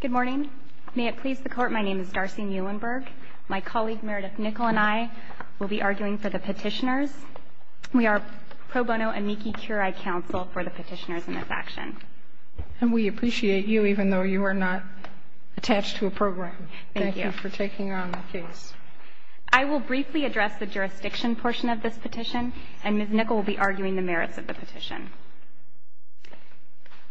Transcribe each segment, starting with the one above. Good morning. May it please the Court, my name is Darcy Muhlenberg. My colleague, Meredith Nickel, and I will be arguing for the petitioners. We are pro bono amici curi counsel for the petitioners in this action. And we appreciate you, even though you are not attached to a program. Thank you for taking on the case. I will briefly address the jurisdiction portion of this petition, and Ms. Nickel will be arguing the merits of the petition.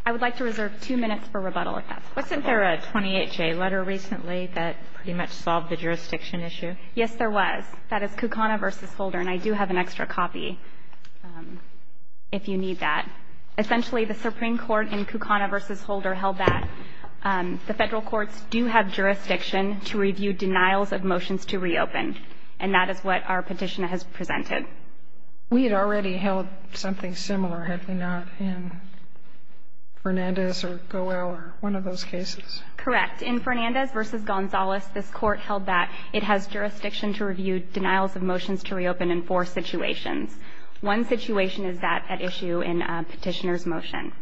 I would like to reserve two minutes for rebuttal, if that's possible. Wasn't there a 28-J letter recently that pretty much solved the jurisdiction issue? Yes, there was. That is Kucana v. Holder, and I do have an extra copy if you need that. Essentially, the Supreme Court in Kucana v. Holder held that the federal courts do have jurisdiction to review denials of motions to reopen. And that is what our petitioner has presented. We had already held something similar, had we not, in Fernandez or Goel or one of those cases. Correct. In Fernandez v. Gonzalez, this Court held that it has jurisdiction to review denials of motions to reopen in four situations. One situation is that at issue in a petitioner's motion.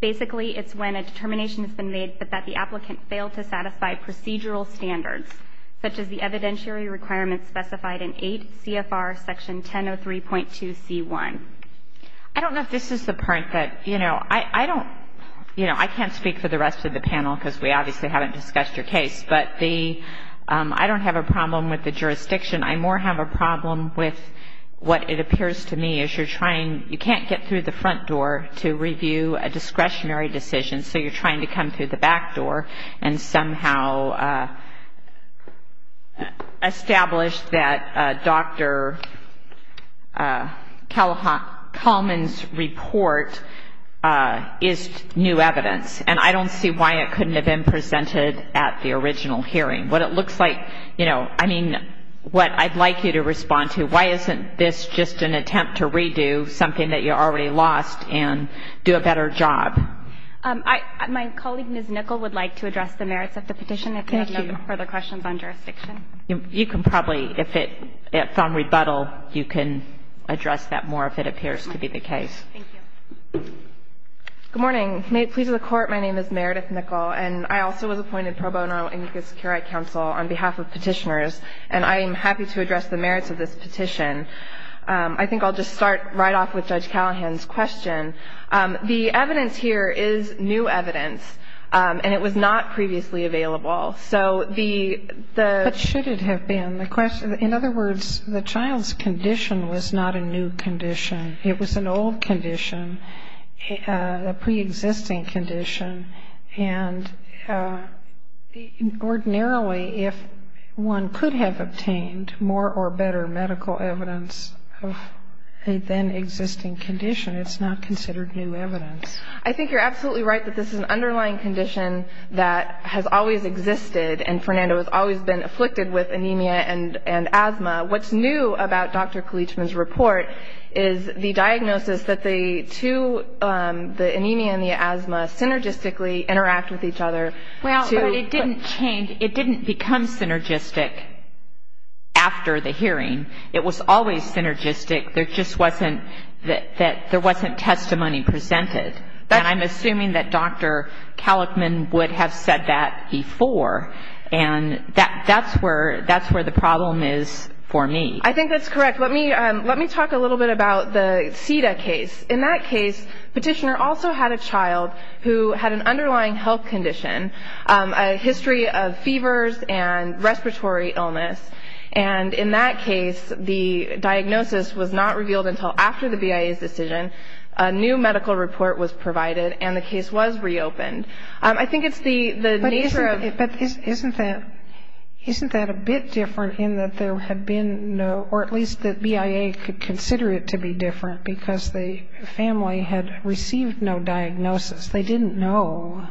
Basically, it's when a determination has been made that the applicant failed to satisfy procedural standards, such as the evidentiary requirements specified in 8 CFR Section 1003.2C1. I don't know if this is the part that, you know, I don't, you know, I can't speak for the rest of the panel, because we obviously haven't discussed your case, but the, I don't have a problem with the jurisdiction. I more have a problem with what it appears to me is you're trying, you can't get through the front door to review a discretionary decision, so you're trying to come through the back door and somehow establish that Dr. Kalman's report is new evidence. And I don't see why it couldn't have been presented at the original hearing. What it looks like, you know, I mean, what I'd like you to respond to, why isn't this just an attempt to redo something that you already lost and do a better job? My colleague, Ms. Nickel, would like to address the merits of the petition. Thank you. If you have no further questions on jurisdiction. You can probably, if it's on rebuttal, you can address that more if it appears to be the case. Thank you. Good morning. May it please the Court, my name is Meredith Nickel, and I also was appointed pro bono in U.S. Security Council on behalf of Petitioners, and I am happy to address the merits of this petition. I think I'll just start right off with Judge Callahan's question. The evidence here is new evidence, and it was not previously available. So the ‑‑ But should it have been? In other words, the child's condition was not a new condition. It was an old condition, a preexisting condition, and ordinarily if one could have obtained more or better medical evidence of a then existing condition, it's not considered new evidence. I think you're absolutely right that this is an underlying condition that has always existed, and Fernando has always been afflicted with anemia and asthma. What's new about Dr. Kalichman's report is the diagnosis that the two, the anemia and the asthma, synergistically interact with each other. Well, but it didn't change. It didn't become synergistic after the hearing. It was always synergistic. There just wasn't ‑‑ there wasn't testimony presented, and I'm assuming that Dr. Kalichman would have said that before, and that's where the problem is for me. I think that's correct. Let me talk a little bit about the CEDA case. In that case, the petitioner also had a child who had an underlying health condition, a history of fevers and respiratory illness, and in that case, the diagnosis was not revealed until after the BIA's decision. A new medical report was provided, and the case was reopened. I think it's the nature of ‑‑ But isn't that a bit different in that there had been no, or at least the BIA could consider it to be different because the family had received no diagnosis. They didn't know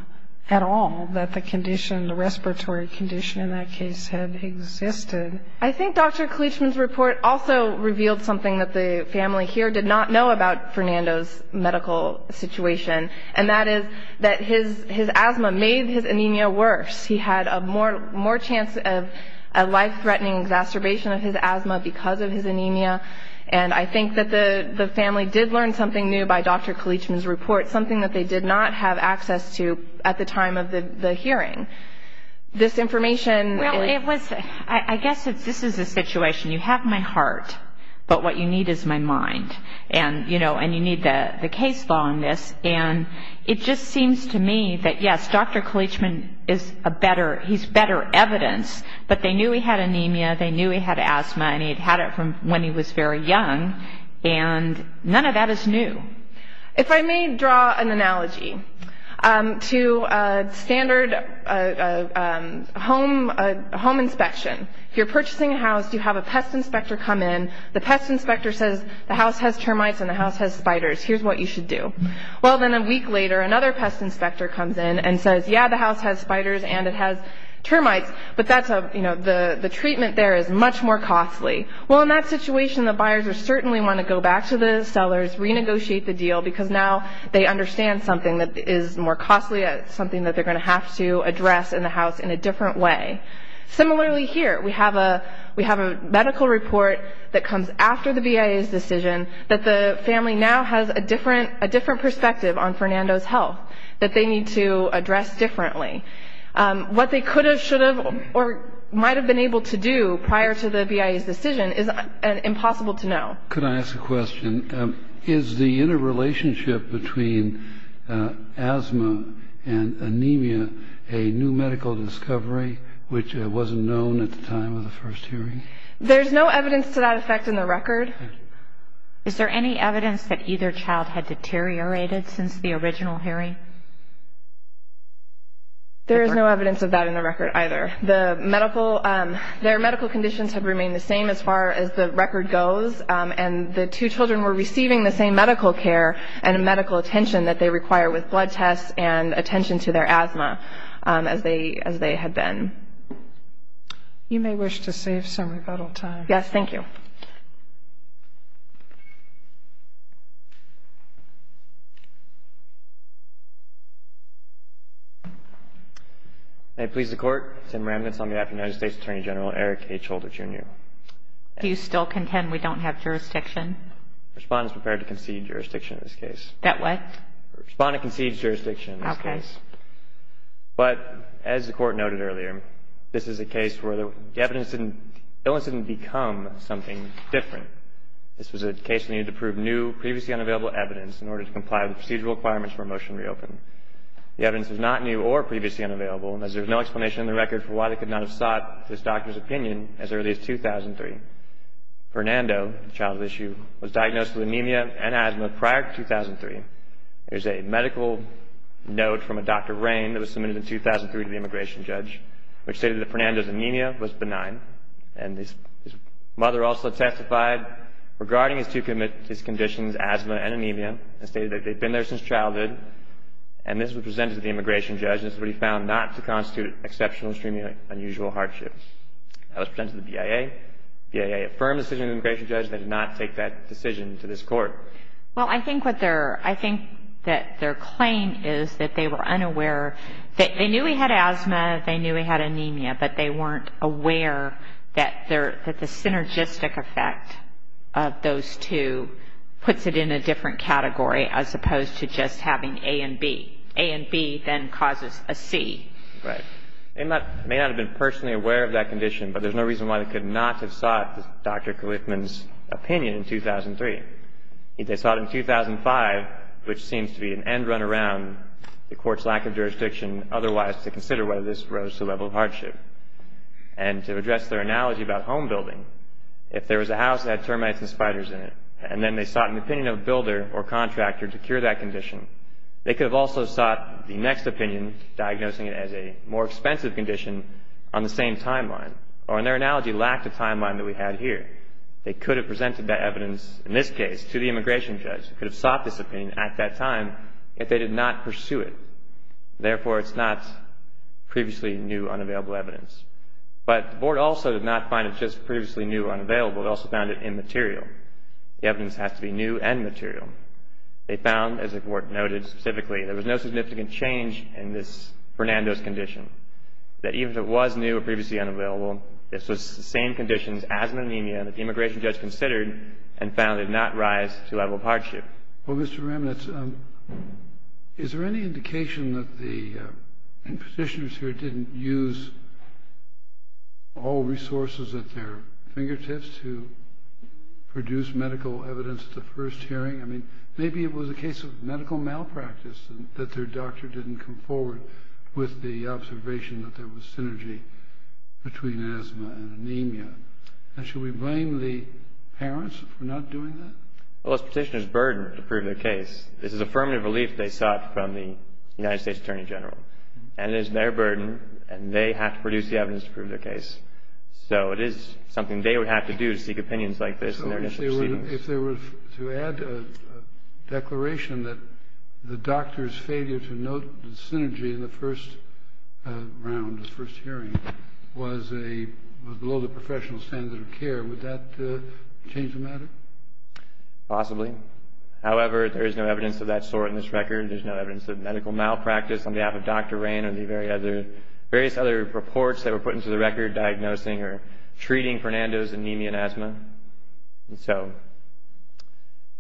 at all that the condition, the respiratory condition in that case had existed. I think Dr. Kalichman's report also revealed something that the family here did not know about Fernando's medical situation, and that is that his asthma made his anemia worse. He had a more chance of a life‑threatening exacerbation of his asthma because of his anemia, and I think that the family did learn something new by Dr. Kalichman's report, something that they did not have access to at the time of the hearing. This information ‑‑ Well, it was ‑‑ I guess this is the situation. You have my heart, but what you need is my mind, and, you know, and you need the case longness, and it just seems to me that, yes, Dr. Kalichman is a better ‑‑ he's better evidence, but they knew he had anemia, they knew he had asthma, and he'd had it from when he was very young, and none of that is new. If I may draw an analogy to standard home inspection, if you're purchasing a house, you have a pest inspector come in, the pest inspector says the house has termites and the house has spiders, here's what you should do. Well, then a week later, another pest inspector comes in and says, yeah, the house has spiders and it has termites, but that's a, you know, the treatment there is much more costly. Well, in that situation, the buyers certainly want to go back to the sellers, renegotiate the deal, because now they understand something that is more costly, something that they're going to have to address in the house in a different way. Similarly here, we have a medical report that comes after the BIA's decision that the family now has a different perspective on Fernando's health that they need to address differently. What they could have, should have, or might have been able to do prior to the BIA's decision is impossible to know. Could I ask a question? Is the interrelationship between asthma and anemia a new medical discovery, which wasn't known at the time of the first hearing? There's no evidence to that effect in the record. Is there any evidence that either child had deteriorated since the original hearing? There is no evidence of that in the record either. The medical, their medical conditions have remained the same as far as the record goes, and the two children were receiving the same medical care and medical attention that they require with blood tests and attention to their asthma as they had been. You may wish to save some rebuttal time. Yes, thank you. May it please the Court, Tim Remnitz on behalf of United States Attorney General Eric H. Holder, Jr. Do you still contend we don't have jurisdiction? Respondents prepared to concede jurisdiction in this case. That what? Respondent concedes jurisdiction in this case. Okay. But as the Court noted earlier, this is a case where the evidence didn't, the evidence didn't become something different. This was a case that needed to prove new, previously unavailable evidence in order to comply with the procedural requirements for a motion to reopen. The evidence is not new or previously unavailable, and there's no explanation in the record for why they could not have sought this doctor's opinion as early as 2003. Fernando, the child at issue, was diagnosed with anemia and asthma prior to 2003. There's a medical note from a Dr. Rain that was submitted in 2003 to the immigration judge, which stated that Fernando's anemia was benign, and his mother also testified regarding his two conditions, asthma and anemia, and stated that they'd been there since childhood, and this was presented to the immigration judge, and this is what he found not to constitute exceptional, extremely unusual hardship. That was presented to the BIA. The BIA affirmed the decision of the immigration judge, and they did not take that decision to this Court. Well, I think that their claim is that they were unaware. They knew he had asthma, they knew he had anemia, but they weren't aware that the synergistic effect of those two puts it in a different category as opposed to just having A and B. A and B then causes a C. Right. They may not have been personally aware of that condition, but there's no reason why they could not have sought Dr. Cliffman's opinion in 2003. If they sought it in 2005, which seems to be an end run around, the Court's lack of jurisdiction otherwise to consider whether this rose to a level of hardship. And to address their analogy about home building, if there was a house that had termites and spiders in it, and then they sought an opinion of a builder or contractor to cure that condition, they could have also sought the next opinion, diagnosing it as a more expensive condition on the same timeline. Or, in their analogy, lacked a timeline that we have here. They could have presented that evidence, in this case, to the immigration judge. They could have sought this opinion at that time if they did not pursue it. Therefore, it's not previously new, unavailable evidence. But the Board also did not find it just previously new or unavailable. They also found it immaterial. The evidence has to be new and material. They found, as the Court noted specifically, there was no significant change in this Fernandez condition. That even if it was new or previously unavailable, this was the same conditions as an anemia that the immigration judge considered and found did not rise to a level of hardship. Well, Mr. Ramnitz, is there any indication that the petitioners here didn't use all resources at their fingertips to produce medical evidence at the first hearing? I mean, maybe it was a case of medical malpractice that their doctor didn't come forward with the observation that there was synergy between asthma and anemia. And should we blame the parents for not doing that? Well, this petitioner's burden to prove their case. This is affirmative relief they sought from the United States Attorney General. And it is their burden, and they have to produce the evidence to prove their case. So it is something they would have to do to seek opinions like this in their initial proceedings. So if there were to add a declaration that the doctor's failure to note the synergy in the first round, the first hearing, was below the professional standard of care, would that change the matter? Possibly. However, there is no evidence of that sort in this record. There's no evidence of medical malpractice on behalf of Dr. Rain or the various other reports that were put into the record diagnosing or treating Fernando's anemia and asthma. And so,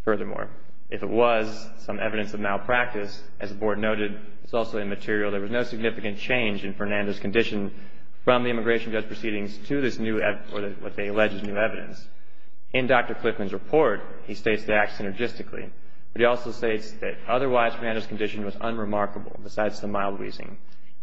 furthermore, if it was some evidence of malpractice, as the Board noted, it's also immaterial, there was no significant change in Fernando's condition from the immigration judge proceedings to what they allege is new evidence. In Dr. Cliffman's report, he states they act synergistically, but he also states that otherwise Fernando's condition was unremarkable, besides the mild wheezing.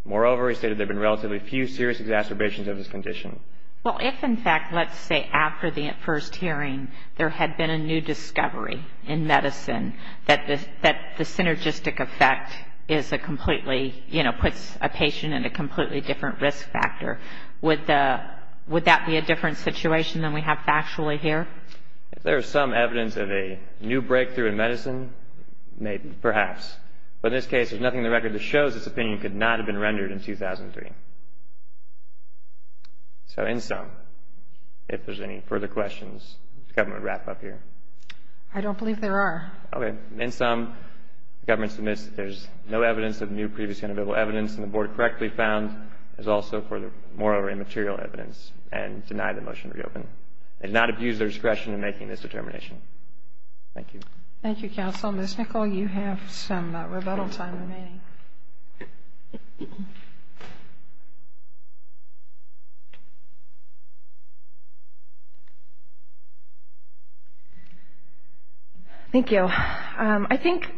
Moreover, he stated there have been relatively few serious exacerbations of his condition. Well, if, in fact, let's say after the first hearing there had been a new discovery in medicine that the synergistic effect is a completely, you know, puts a patient in a completely different risk factor, would that be a different situation than we have factually here? If there is some evidence of a new breakthrough in medicine, perhaps. But in this case, there's nothing in the record that shows this opinion could not have been rendered in 2003. So, in sum, if there's any further questions, the government would wrap up here. I don't believe there are. Okay. In sum, the government submits that there's no evidence of new, previously unavailable evidence, and the Board correctly found there's also further moral or immaterial evidence, and denied the motion to reopen. They did not abuse their discretion in making this determination. Thank you. Thank you, Counsel. Ms. Nichol, you have some rebuttal time remaining. Thank you. I think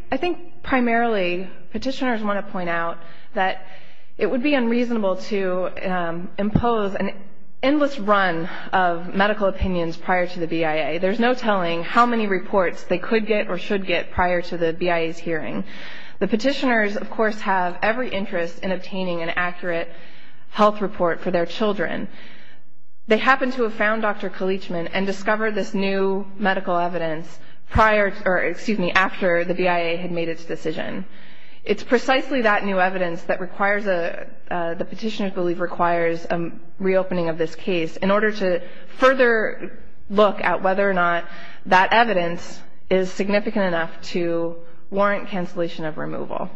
primarily petitioners want to point out that it would be unreasonable to impose an endless run of medical opinions prior to the BIA. There's no telling how many reports they could get or should get prior to the BIA's hearing. The petitioners, of course, have every interest in obtaining an accurate health report for their children. They happen to have found Dr. Kalichman and discovered this new medical evidence after the BIA had made its decision. It's precisely that new evidence that the petitioners believe requires a reopening of this case in order to further look at whether or not that evidence is significant enough to warrant cancellation of removal.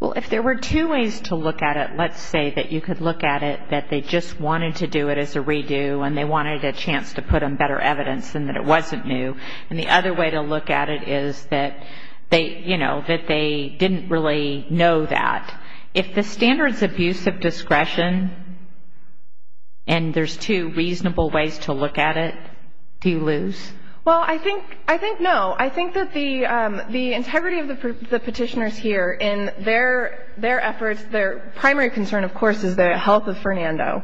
Well, if there were two ways to look at it, let's say that you could look at it that they just wanted to do it as a redo and they wanted a chance to put on better evidence and that it wasn't new, and the other way to look at it is that they, you know, that they didn't really know that. If the standard's abuse of discretion and there's two reasonable ways to look at it, do you lose? Well, I think no. I think that the integrity of the petitioners here in their efforts, their primary concern, of course, is the health of Fernando.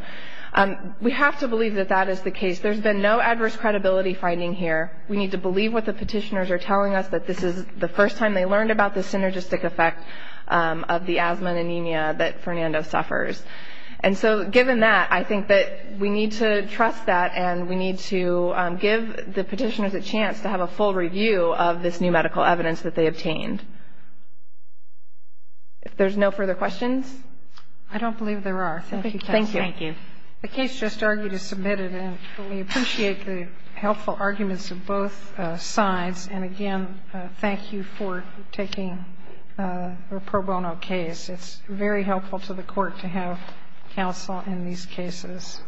We have to believe that that is the case. There's been no adverse credibility finding here. We need to believe what the petitioners are telling us, that this is the first time they learned about the synergistic effect of the asthma and anemia that Fernando suffers. And so given that, I think that we need to trust that and we need to give the petitioners a chance to have a full review of this new medical evidence that they obtained. If there's no further questions. I don't believe there are. Thank you. Thank you. The case just argued is submitted, and we appreciate the helpful arguments of both sides. And again, thank you for taking a pro bono case. It's very helpful to the Court to have counsel in these cases.